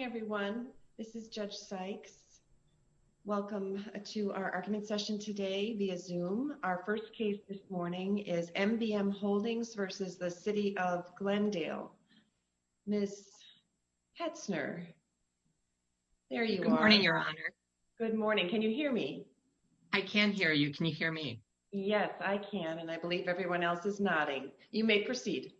Good morning, everyone. This is Judge Sykes. Welcome to our argument session today via Zoom. Our first case this morning is MBM Holdings v. City of Glendale. Ms. Petzner, there you are. Good morning, Your Honor. Good morning. Can you hear me? I can hear you. Can you hear me? Yes, I can, and I believe everyone else is nodding. You may proceed.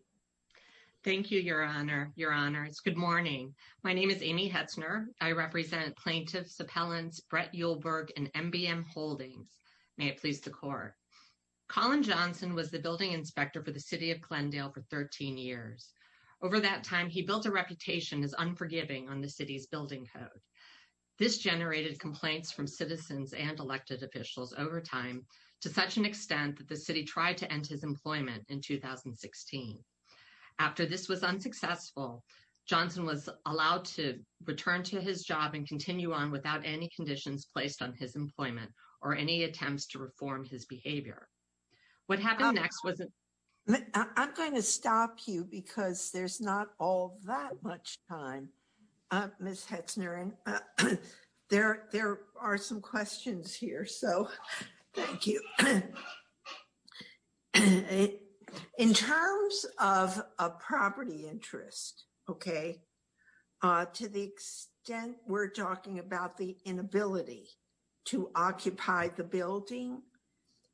Thank you, Your Honor, Your Honors. Good morning. My name is Amy Petzner. I represent plaintiffs, appellants, Brett Uhlberg, and MBM Holdings. May it please the Court. Colin Johnson was the building inspector for the City of Glendale for 13 years. Over that time, he built a reputation as unforgiving on the city's building code. This generated complaints from citizens and elected officials over time to such an extent that the city tried to end his employment in 2016. After this was unsuccessful, Johnson was allowed to return to his job and continue on without any conditions placed on his employment or any attempts to reform his behavior. I'm going to stop you because there's not all that much time. Ms. Petzner, there are some questions here, so thank you. In terms of a property interest, okay, to the extent we're talking about the inability to occupy the building,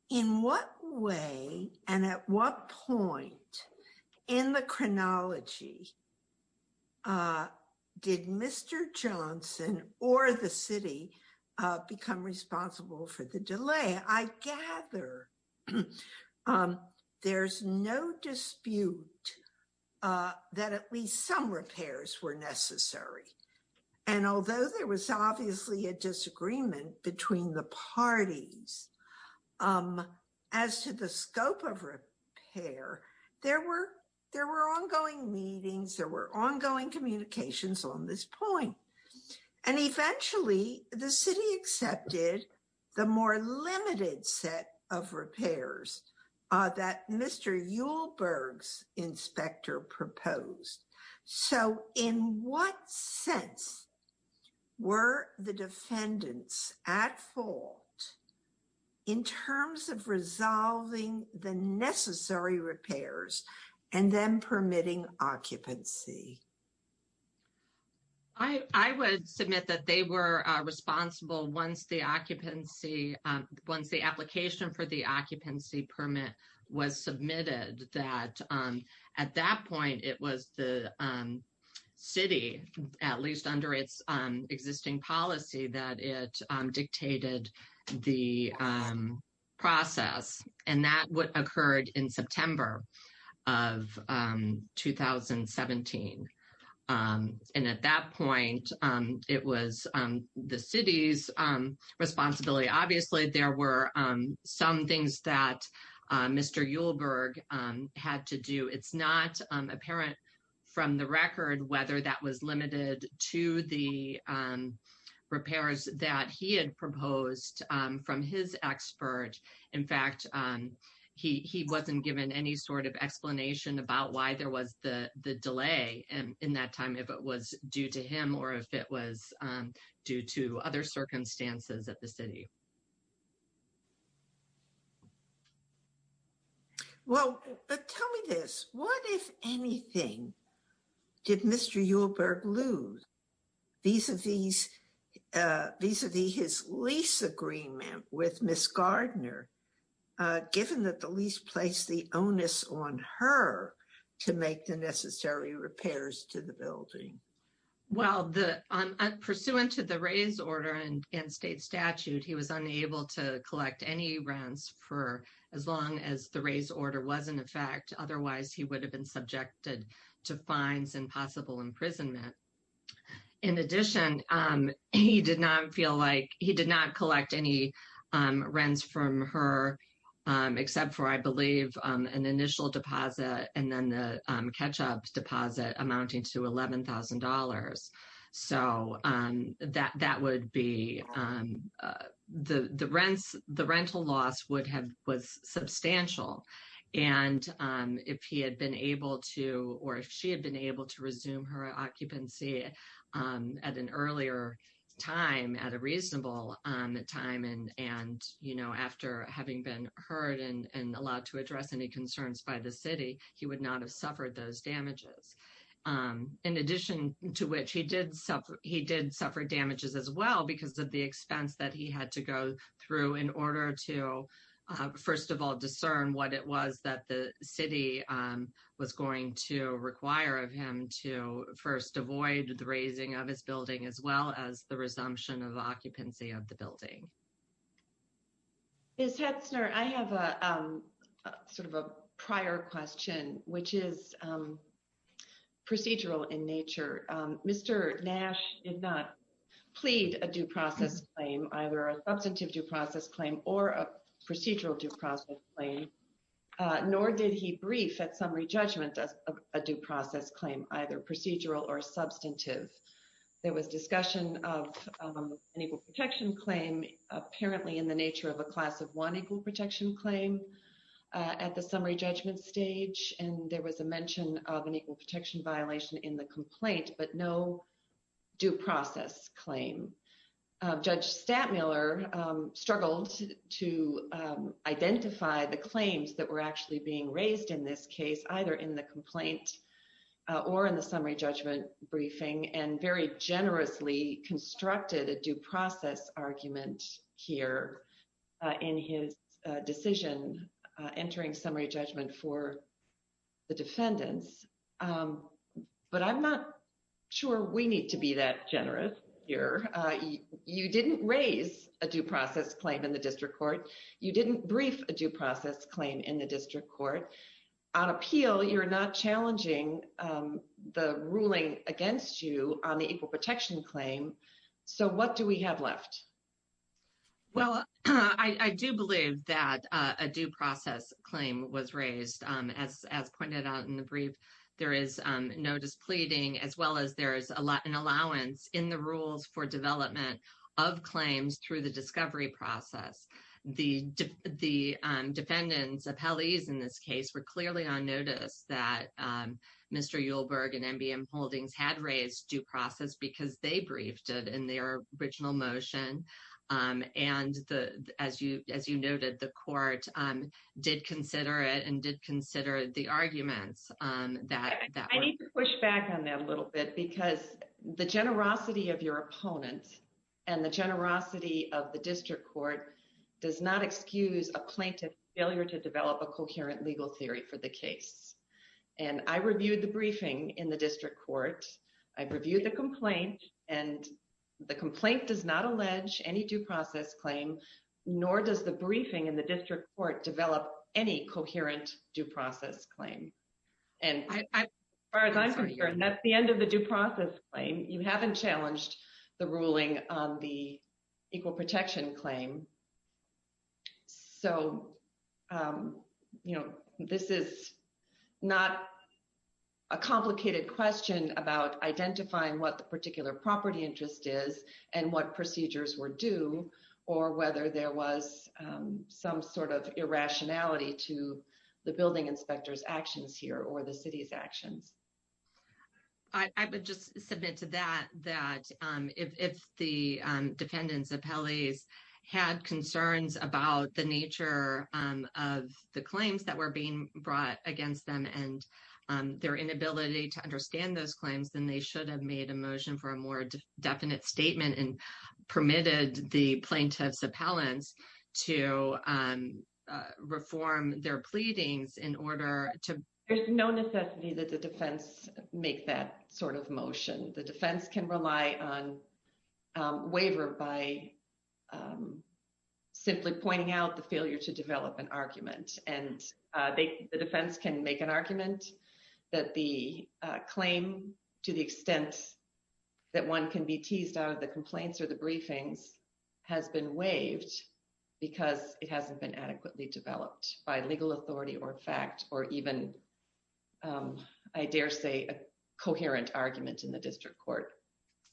in what way and at what point in the chronology did Mr. Johnson or the city become responsible for the delay? I gather there's no dispute that at least some repairs were necessary. And although there was obviously a disagreement between the parties as to the scope of repair, there were ongoing meetings, there were ongoing communications on this point. And eventually, the city accepted the more limited set of repairs that Mr. Uhlberg's inspector proposed. So in what sense were the defendants at fault in terms of resolving the necessary repairs and then permitting occupancy? I would submit that they were responsible once the occupancy, once the application for the occupancy permit was submitted, that at that point it was the city, at least under its existing policy, that it dictated the process. And that occurred in September of 2017. And at that point, it was the city's responsibility. And I would say, obviously, there were some things that Mr. Uhlberg had to do. It's not apparent from the record whether that was limited to the repairs that he had proposed from his expert. In fact, he wasn't given any sort of explanation about why there was the delay in that time, if it was due to him or if it was due to other circumstances at the city. Well, but tell me this, what, if anything, did Mr. Uhlberg lose vis-a-vis his lease agreement with Ms. Gardner, given that the lease placed the onus on her to make the necessary repairs to the building? Well, pursuant to the raise order and state statute, he was unable to collect any rents for as long as the raise order was in effect. Otherwise, he would have been subjected to fines and possible imprisonment. In addition, he did not feel like he did not collect any rents from her, except for, I believe, an initial deposit and then the catch-up deposit amounting to $11,000. So that would be the rents, the rental loss would have, was substantial. And if he had been able to, or if she had been able to resume her occupancy at an earlier time, at a reasonable time, and, you know, after having been heard and allowed to address any concerns by the city, he would not have suffered those damages. In addition to which, he did suffer damages as well because of the expense that he had to go through in order to, first of all, discern what it was that the city was going to require of him to first avoid the raising of his building, as well as the resumption of the occupancy of the building. Ms. Hetzner, I have a sort of a prior question, which is procedural in nature. Mr. Nash did not plead a due process claim, either a substantive due process claim or a procedural due process claim, nor did he brief at summary judgment a due process claim, either procedural or substantive. There was discussion of an equal protection claim, apparently in the nature of a class of one equal protection claim at the summary judgment stage, and there was a mention of an equal protection violation in the complaint, but no due process claim. Judge Stantmiller struggled to identify the claims that were actually being raised in this case, either in the complaint or in the summary judgment briefing, and very generously constructed a due process argument here in his decision, entering summary judgment for the defendants. But I'm not sure we need to be that generous here. You didn't raise a due process claim in the district court. You didn't brief a due process claim in the district court. On appeal, you're not challenging the ruling against you on the equal protection claim. So what do we have left? Well, I do believe that a due process claim was raised. As pointed out in the brief, there is no displeading as well as there is an allowance in the rules for development of claims through the discovery process. The defendants, appellees in this case, were clearly on notice that Mr. Yuleberg and MBM Holdings had raised due process because they briefed it in their original motion. And as you noted, the court did consider it and did consider the arguments. I need to push back on that a little bit because the generosity of your opponent and the generosity of the district court does not excuse a plaintiff's failure to develop a coherent legal theory for the case. And I reviewed the briefing in the district court. I've reviewed the complaint, and the complaint does not allege any due process claim, nor does the briefing in the district court develop any coherent due process claim. And as far as I'm concerned, that's the end of the due process claim. You haven't challenged the ruling on the equal protection claim. So, you know, this is not a complicated question about identifying what the particular property interest is and what procedures were due or whether there was some sort of irrationality to the building inspector's actions here or the city's actions. I would just submit to that that if the defendant's appellees had concerns about the nature of the claims that were being brought against them and their inability to understand those claims, then they should have made a motion for a more definite statement and permitted the plaintiff's appellants to reform their pleadings in order to. There's no necessity that the defense, make that sort of motion, the defense can rely on waiver by simply pointing out the failure to develop an argument, and they, the defense can make an argument that the claim, to the extent that one can be teased out of the I dare say a coherent argument in the district court.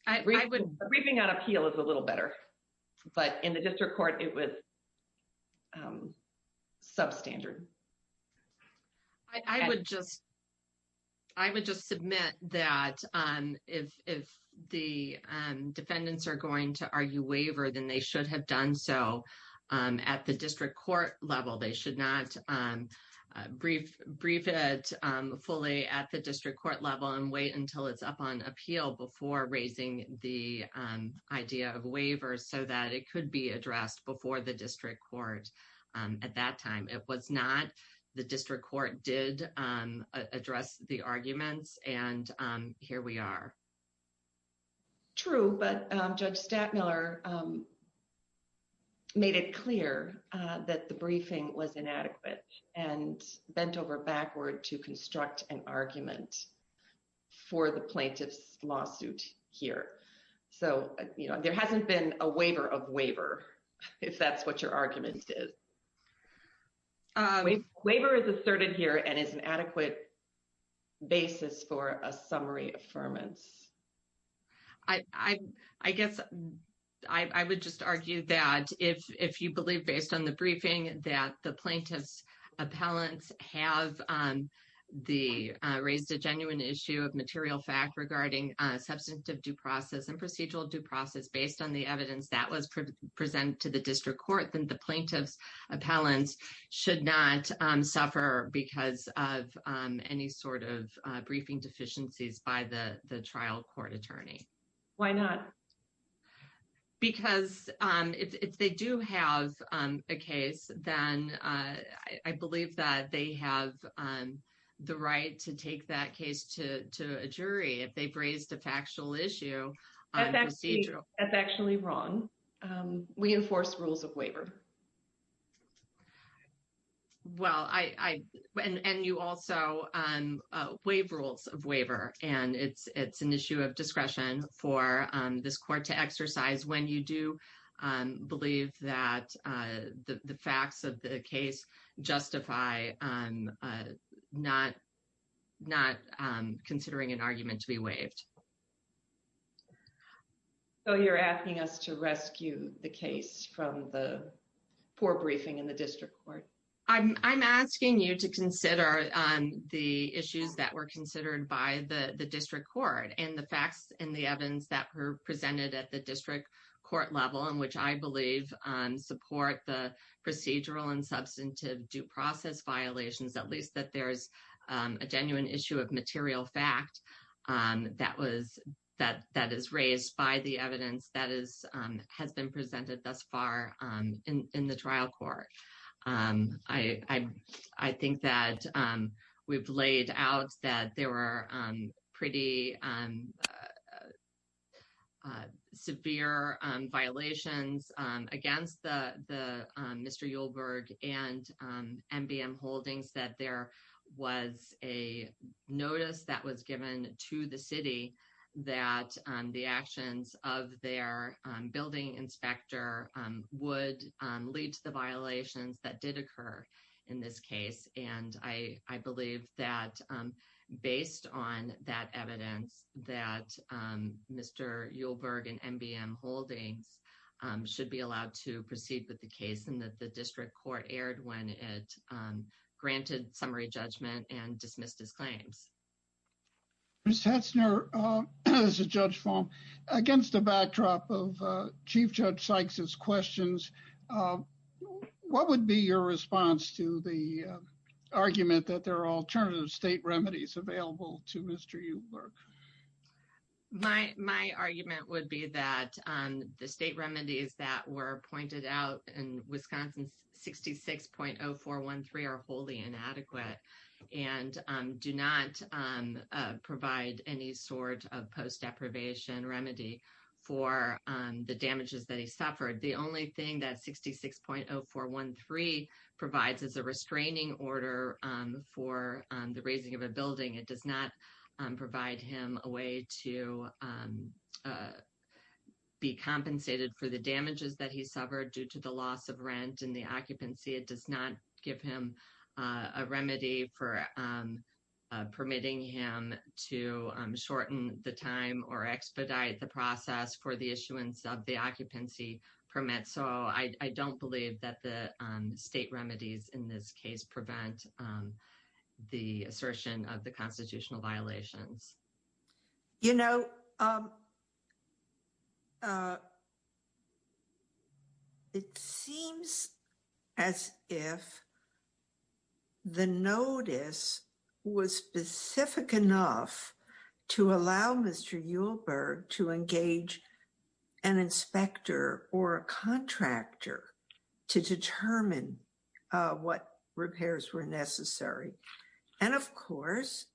I would briefing on appeal is a little better, but in the district court, it was substandard. I would just, I would just submit that if the defendants are going to argue waiver, then they should have done so at the district court level. They should not brief, brief it fully at the district court level and wait until it's up on appeal before raising the idea of waiver so that it could be addressed before the district court. At that time, it was not the district court did address the arguments and here we are. True, but Judge Stattmiller made it clear that the briefing was inadequate and bent over backward to construct an argument for the plaintiff's lawsuit here. So, you know, there hasn't been a waiver of waiver, if that's what your argument is. Waiver is asserted here and is an adequate basis for a summary affirmance. I guess I would just argue that if you believe based on the briefing that the plaintiff's appellants have the raised a genuine issue of material fact regarding substantive due process and procedural due process based on the evidence that was presented to the district court, then the plaintiff's appellants should not suffer because of any sort of briefing deficiencies by the trial court attorney. Why not? Because if they do have a case, then I believe that they have the right to take that case to a jury if they've raised a factual issue. That's actually wrong. We enforce rules of waiver. Well, and you also waive rules of waiver and it's an issue of discretion for this court to exercise when you do believe that the facts of the case justify not considering an argument to be waived. So, you're asking us to rescue the case from the poor briefing in the district court. I'm asking you to consider the issues that were considered by the district court and the facts and the evidence that were presented at the district court level in which I believe support the procedural and substantive due process violations, at least that there's a genuine issue of material fact that is raised by the evidence that has been presented thus far in the trial court. I think that we've laid out that there were pretty severe violations against the Mr. Holdings that there was a notice that was given to the city that the actions of their building inspector would lead to the violations that did occur in this case. And I believe that based on that evidence that Mr. Yulberg and MBM Holdings should be allowed to proceed with the case and that the district court aired when it granted summary judgment and dismissed his claims. Ms. Hetzner, this is Judge Faulk. Against the backdrop of Chief Judge Sykes' questions, what would be your response to the argument that there are alternative state remedies available to Mr. Yulberg? My argument would be that the state remedies that were pointed out in Wisconsin 66.0413 are wholly inadequate and do not provide any sort of post deprivation remedy for the damages that he suffered. The only thing that 66.0413 provides is a restraining order for the raising of a building. It does not provide him a way to be compensated for the damages that he suffered due to the loss of rent and the occupancy. It does not give him a remedy for permitting him to shorten the time or expedite the process for the issuance of the occupancy permit. So I don't believe that the state remedies in this case prevent the assertion of the constitutional violations. You know, it seems as if the notice was specific enough to allow Mr. Yulberg to engage an inspector or a contractor to determine what repairs were necessary. And of course,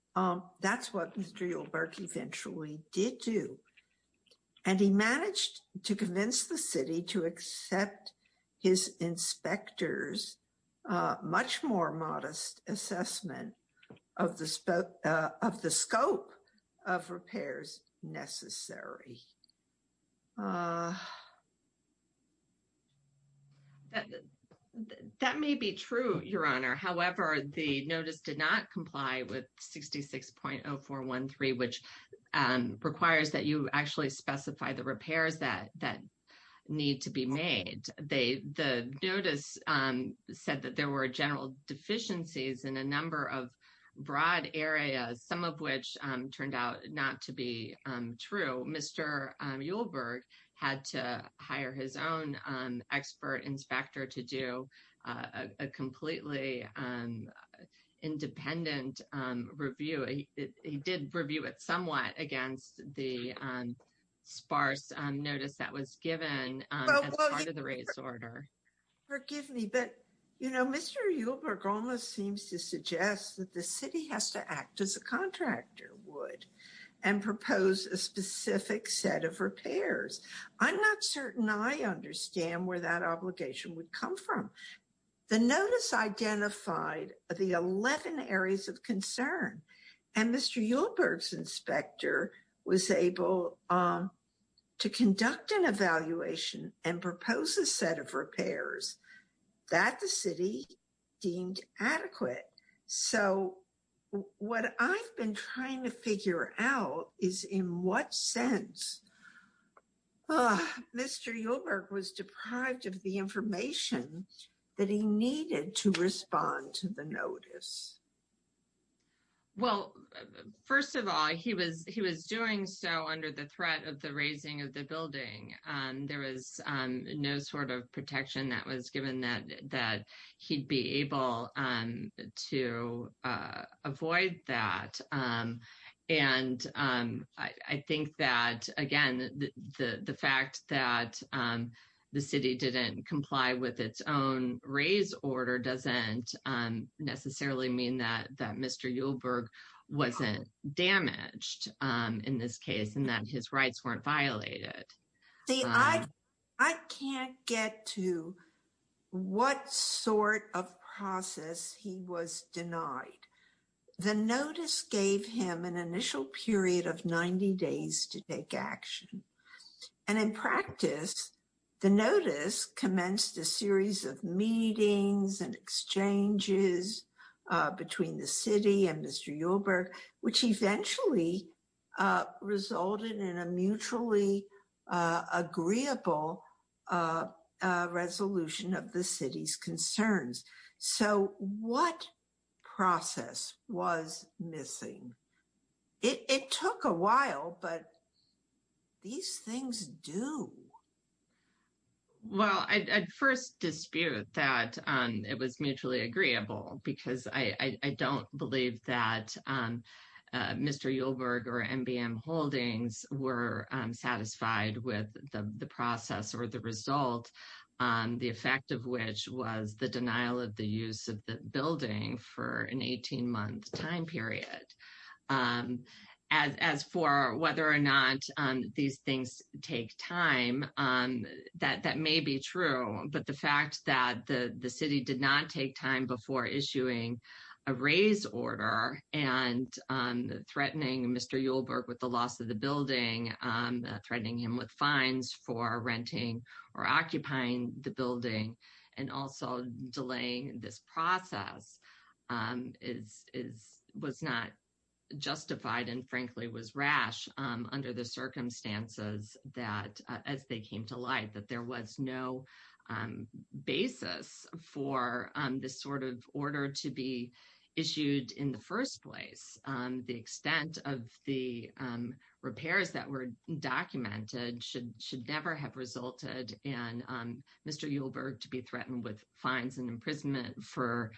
that's what Mr. Yulberg eventually did do. And he managed to convince the city to accept his inspectors much more modest assessment of the scope of repairs necessary. That may be true, Your Honor. However, the notice did not comply with 66.0413, which requires that you actually specify the repairs that need to be made. And the notice said that there were general deficiencies in a number of broad areas, some of which turned out not to be true. Mr. Yulberg had to hire his own expert inspector to do a completely independent review. He did review it somewhat against the sparse notice that was given as part of the race order. Forgive me, but, you know, Mr. Yulberg almost seems to suggest that the city has to act as a contractor would and propose a specific set of repairs. I'm not certain I understand where that obligation would come from. The notice identified the 11 areas of concern and Mr. Yulberg's inspector was able to conduct an evaluation and propose a set of repairs that the city deemed adequate. So what I've been trying to figure out is in what sense Mr. Yulberg was deprived of the information that he needed to respond to the notice. Well, first of all, he was doing so under the threat of the raising of the building. There was no sort of protection that was given that he'd be able to avoid that. And I think that, again, the fact that the city didn't comply with its own race order doesn't necessarily mean that that Mr. Yulberg wasn't damaged in this case and that his rights weren't violated. I can't get to what sort of process he was denied. The notice gave him an initial period of 90 days to take action. And in practice, the notice commenced a series of meetings and exchanges between the city and Mr. Yulberg, which eventually resulted in a mutually agreeable resolution of the city's concerns. So what process was missing? It took a while, but these things do. Well, I'd first dispute that it was mutually agreeable because I don't believe that Mr. Yulberg or MBM Holdings were satisfied with the process or the result, the effect of which was the denial of the use of the building for an 18-month time period. As for whether or not these things take time, that may be true, but the fact that the city did not take time before issuing a raise order and threatening Mr. Yulberg with the loss of the building, threatening him with fines for renting or occupying the building, and also delaying this process, was not justified and frankly was rash under the circumstances as they came to light, that there was no basis for this sort of order to be issued in the first place. The extent of the repairs that were documented should never have resulted in Mr. Yulberg to be threatened with fines and imprisonment for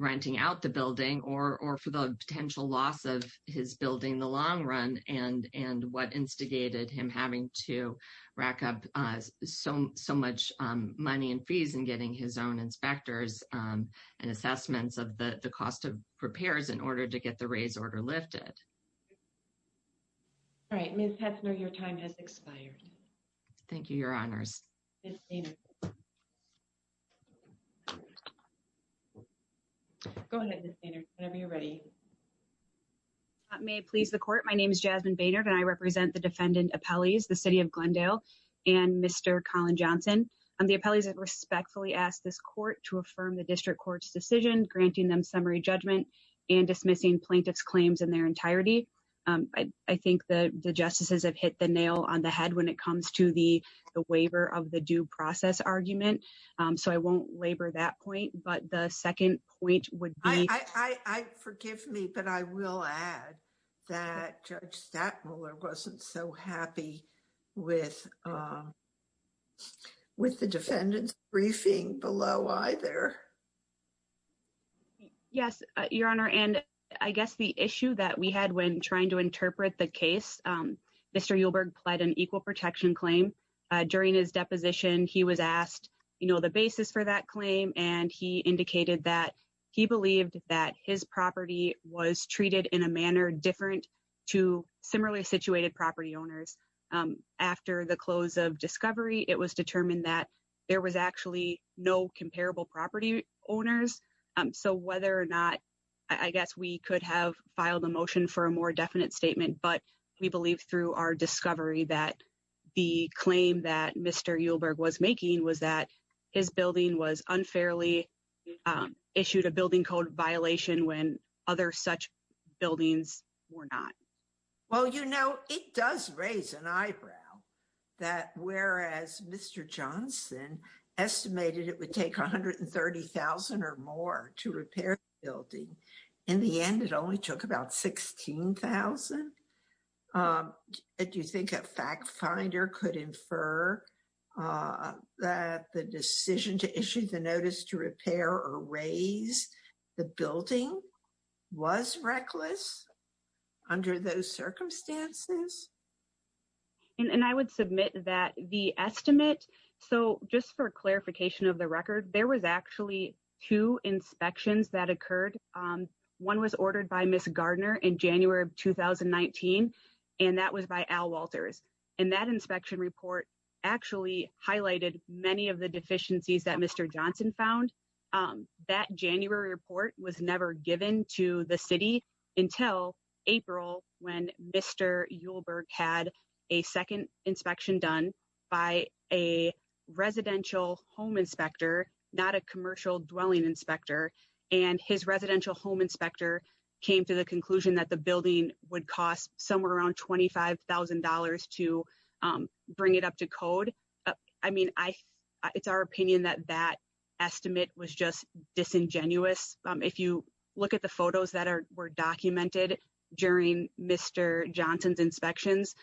renting out the building or for the potential loss of his building in the long run and what instigated him having to rack up so much money and fees and getting his own inspectors and assessments of the cost of repairs in order to get the raise order lifted. All right, Ms. Heffner, your time has expired. Thank you, Your Honors. Ms. Boehner. Go ahead, Ms. Boehner, whenever you're ready. May it please the court, my name is Jasmine Boehner and I represent the defendant appellees, the city of Glendale and Mr. Colin Johnson. The appellees have respectfully asked this court to affirm the district court's decision, granting them summary judgment and dismissing plaintiff's claims in their entirety. I think the justices have hit the nail on the head when it comes to the waiver of the due process argument, so I won't labor that point, but the second point would be I forgive me, but I will add that Judge Stadtmuller wasn't so happy with the defendant's briefing below either. Yes, Your Honor, and I guess the issue that we had when trying to interpret the case, Mr. Uhlberg pled an equal protection claim. During his deposition, he was asked, you know, the basis for that claim, and he indicated that he believed that his property was treated in a manner different to similarly situated property owners. After the close of discovery, it was determined that there was actually no comparable property owners. So whether or not, I guess we could have filed a motion for a more definite statement, but we believe through our discovery that the claim that Mr. Uhlberg was making was that his building was unfairly issued a building code violation when other such buildings were not. Well, you know, it does raise an eyebrow that whereas Mr. Johnson estimated it would take 130,000 or more to repair the building. In the end, it only took about 16,000. Do you think a fact finder could infer that the decision to issue the notice to repair or raise the building was reckless under those circumstances? And I would submit that the estimate, so just for clarification of the record, there was actually two inspections that occurred. One was ordered by Miss Gardner in January of 2019, and that was by Al Walters, and that inspection report actually highlighted many of the deficiencies that Mr. Johnson found. That January report was never given to the city until April when Mr. Uhlberg had a second inspection done by a residential home inspector, not a commercial dwelling inspector, and his residential home inspector came to the conclusion that the building would cost somewhere around $25,000 to bring it up to code. I mean, it's our opinion that that estimate was just disingenuous. If you look at the photos that were documented during Mr. Johnson's inspections,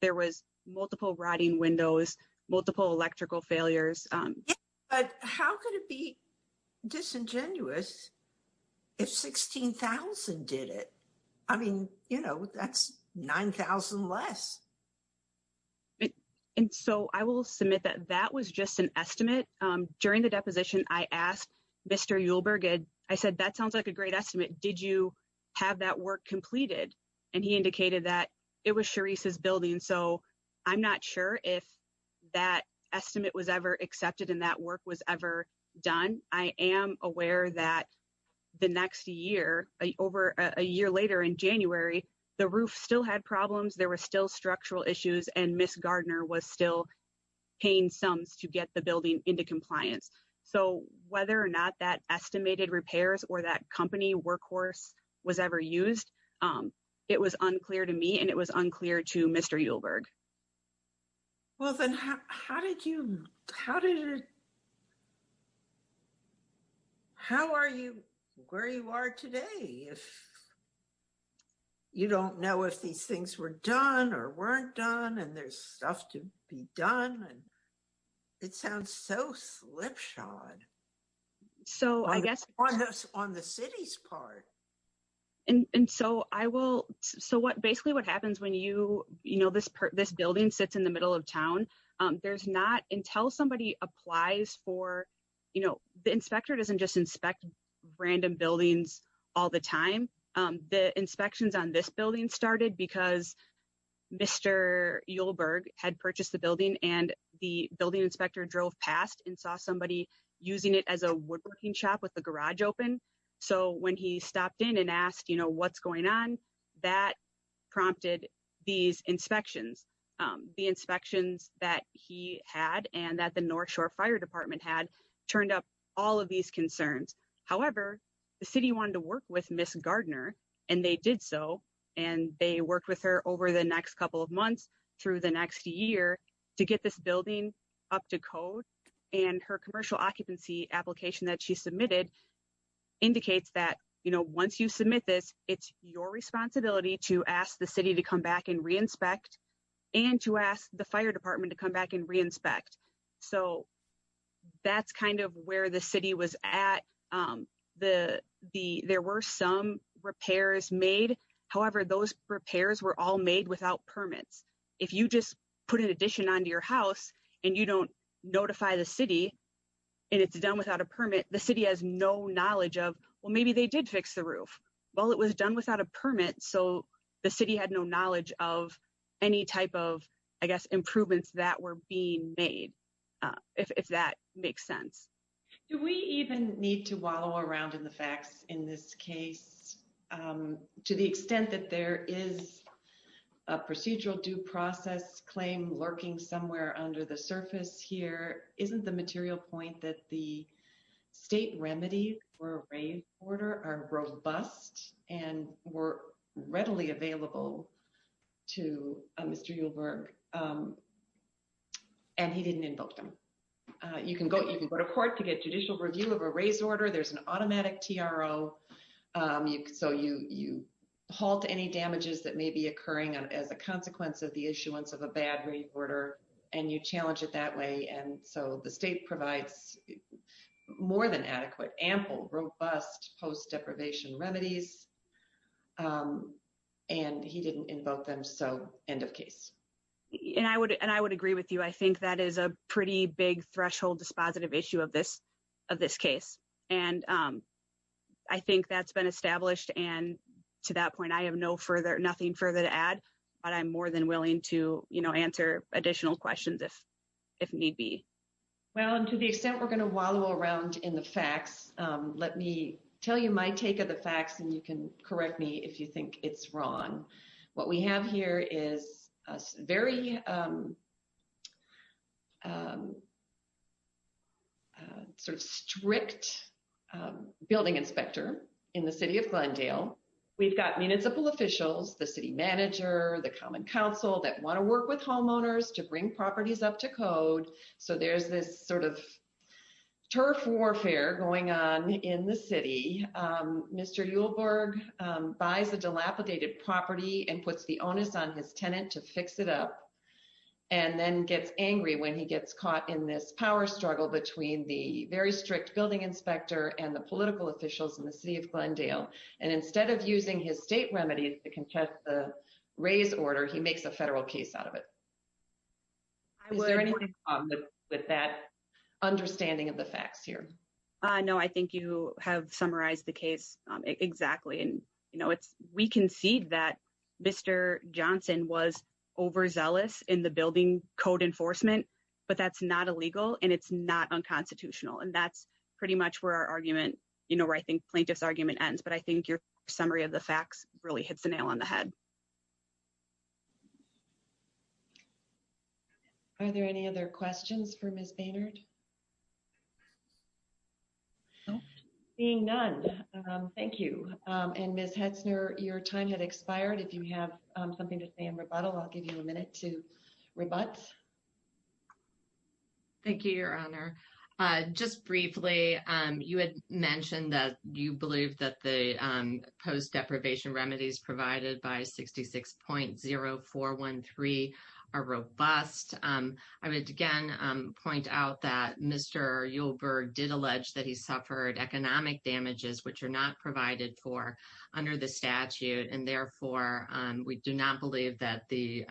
there was multiple rotting windows, multiple electrical failures. But how could it be disingenuous if 16,000 did it? I mean, you know, that's 9,000 less. And so I will submit that that was just an estimate. During the deposition, I asked Mr. Uhlberg, I said, that sounds like a great estimate. Did you have that work completed? And he indicated that it was Charisse's building, so I'm not sure if that estimate was ever accepted and that work was ever done. I am aware that the next year, over a year later in January, the roof still had problems, there were still structural issues, and Ms. Gardner was still paying sums to get the building into compliance. So whether or not that estimated repairs or that company workhorse was ever used, it was unclear to me and it was unclear to Mr. Uhlberg. Well, then how did you, how did it, how are you where you are today if you don't know if these things were done or weren't done and there's stuff to be done? And it sounds so slipshod. So I guess- On the city's part. And so I will, so what, basically what happens when you, you know, this building sits in the middle of town, there's not, until somebody applies for, you know, the inspector doesn't just inspect random buildings all the time. The inspections on this building started because Mr. Uhlberg had purchased the building and the building inspector drove past and saw somebody using it as a woodworking shop with the garage open. So when he stopped in and asked, you know, what's going on, that prompted these inspections. The inspections that he had and that the North Shore Fire Department had turned up all of these concerns. However, the city wanted to work with Ms. Gardner, and they did so, and they worked with her over the next couple of months through the next year to get this building up to code. And her commercial occupancy application that she submitted indicates that, you know, once you submit this, it's your responsibility to ask the city to come back and re-inspect and to ask the fire department to come back and re-inspect. So that's kind of where the city was at. There were some repairs made. However, those repairs were all made without permits. If you just put an addition onto your house and you don't notify the city and it's done without a permit, the city has no knowledge of, well, maybe they did fix the roof. Well, it was done without a permit, so the city had no knowledge of any type of, I guess, improvements that were being made, if that makes sense. Do we even need to wallow around in the facts in this case? To the extent that there is a procedural due process claim lurking somewhere under the surface here, isn't the material point that the state remedy for a rainwater are robust and were readily available to Mr. You can go to court to get judicial review of a raise order. There's an automatic TRO, so you halt any damages that may be occurring as a consequence of the issuance of a bad rainwater and you challenge it that way. And so the state provides more than adequate, ample, robust post-deprivation remedies, and he didn't invoke them, so end of case. And I would agree with you. I think that is a pretty big threshold dispositive issue of this case. And I think that's been established, and to that point, I have nothing further to add, but I'm more than willing to answer additional questions if need be. Well, and to the extent we're going to wallow around in the facts, let me tell you my take of the facts, and you can correct me if you think it's wrong. What we have here is a very sort of strict building inspector in the city of Glendale. We've got municipal officials, the city manager, the common council that want to work with homeowners to bring properties up to code. So there's this sort of turf warfare going on in the city. Mr. Uhlberg buys a dilapidated property and puts the onus on his tenant to fix it up and then gets angry when he gets caught in this power struggle between the very strict building inspector and the political officials in the city of Glendale. And instead of using his state remedies to contest the raise order, he makes a federal case out of it. Is there anything wrong with that understanding of the facts here? No, I think you have summarized the case exactly. And, you know, we concede that Mr. Johnson was overzealous in the building code enforcement, but that's not illegal and it's not unconstitutional. And that's pretty much where our argument, you know, where I think plaintiff's argument ends. But I think your summary of the facts really hits the nail on the head. Are there any other questions for Miss Baynard? Seeing none. Thank you. And Miss Hetzner, your time had expired. If you have something to say in rebuttal, I'll give you a minute to rebut. Thank you, Your Honor. Just briefly, you had mentioned that you believe that the post deprivation remedies provided by 66.0413 are robust. I would again point out that Mr. Uhlberg did allege that he suffered economic damages, which are not provided for under the statute. And therefore, we do not believe that the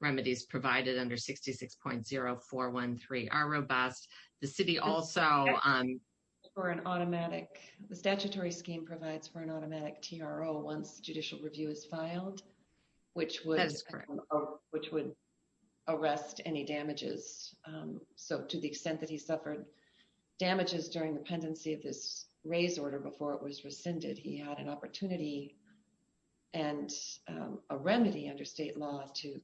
remedies provided under 66.0413 are robust. The city also provides for an automatic, the statutory scheme provides for an automatic TRO once judicial review is filed, which would arrest any damages. So to the extent that he suffered damages during the pendency of this raise order before it was rescinded, he had an opportunity and a remedy under state law to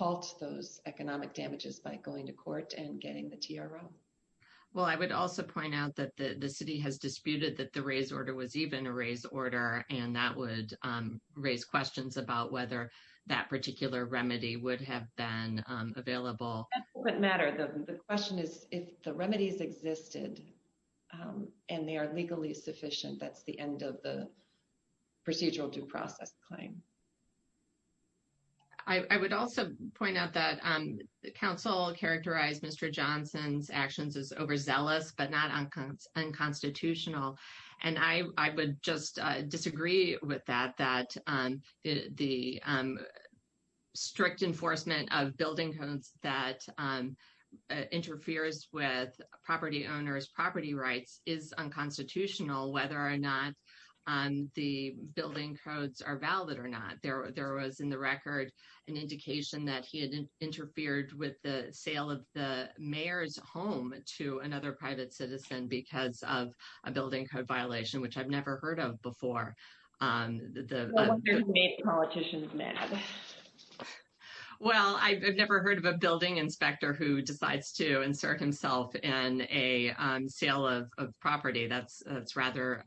reduce those economic damages by going to court and getting the TRO. Well, I would also point out that the city has disputed that the raise order was even a raise order, and that would raise questions about whether that particular remedy would have been available. That doesn't matter. The question is, if the remedies existed, and they are legally sufficient, that's the end of the procedural due process claim. I would also point out that the council characterized Mr. Johnson's actions as overzealous, but not unconstitutional. And I would just disagree with that, that the strict enforcement of building codes that interferes with property owners' property rights is unconstitutional, whether or not the building codes are valid or not. There was, in the record, an indication that he had interfered with the sale of the mayor's home to another private citizen because of a building code violation, which I've never heard of before. What made politicians mad? Well, I've never heard of a building inspector who decides to insert himself in a sale of property. That's rather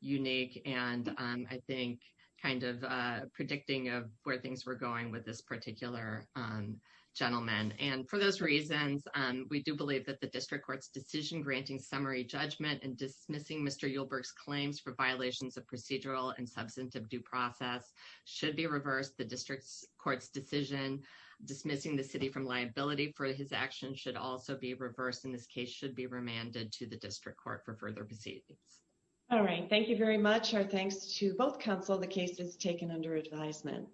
unique, and I think kind of predicting of where things were going with this particular gentleman. And for those reasons, we do believe that the district court's decision granting summary judgment and dismissing Mr. Uhlberg's claims for violations of procedural and substantive due process should be reversed. The district court's decision dismissing the city from liability for his actions should also be reversed, and this case should be remanded to the district court for further proceedings. All right. Thank you very much. Our thanks to both counsel. The case is taken under advisement.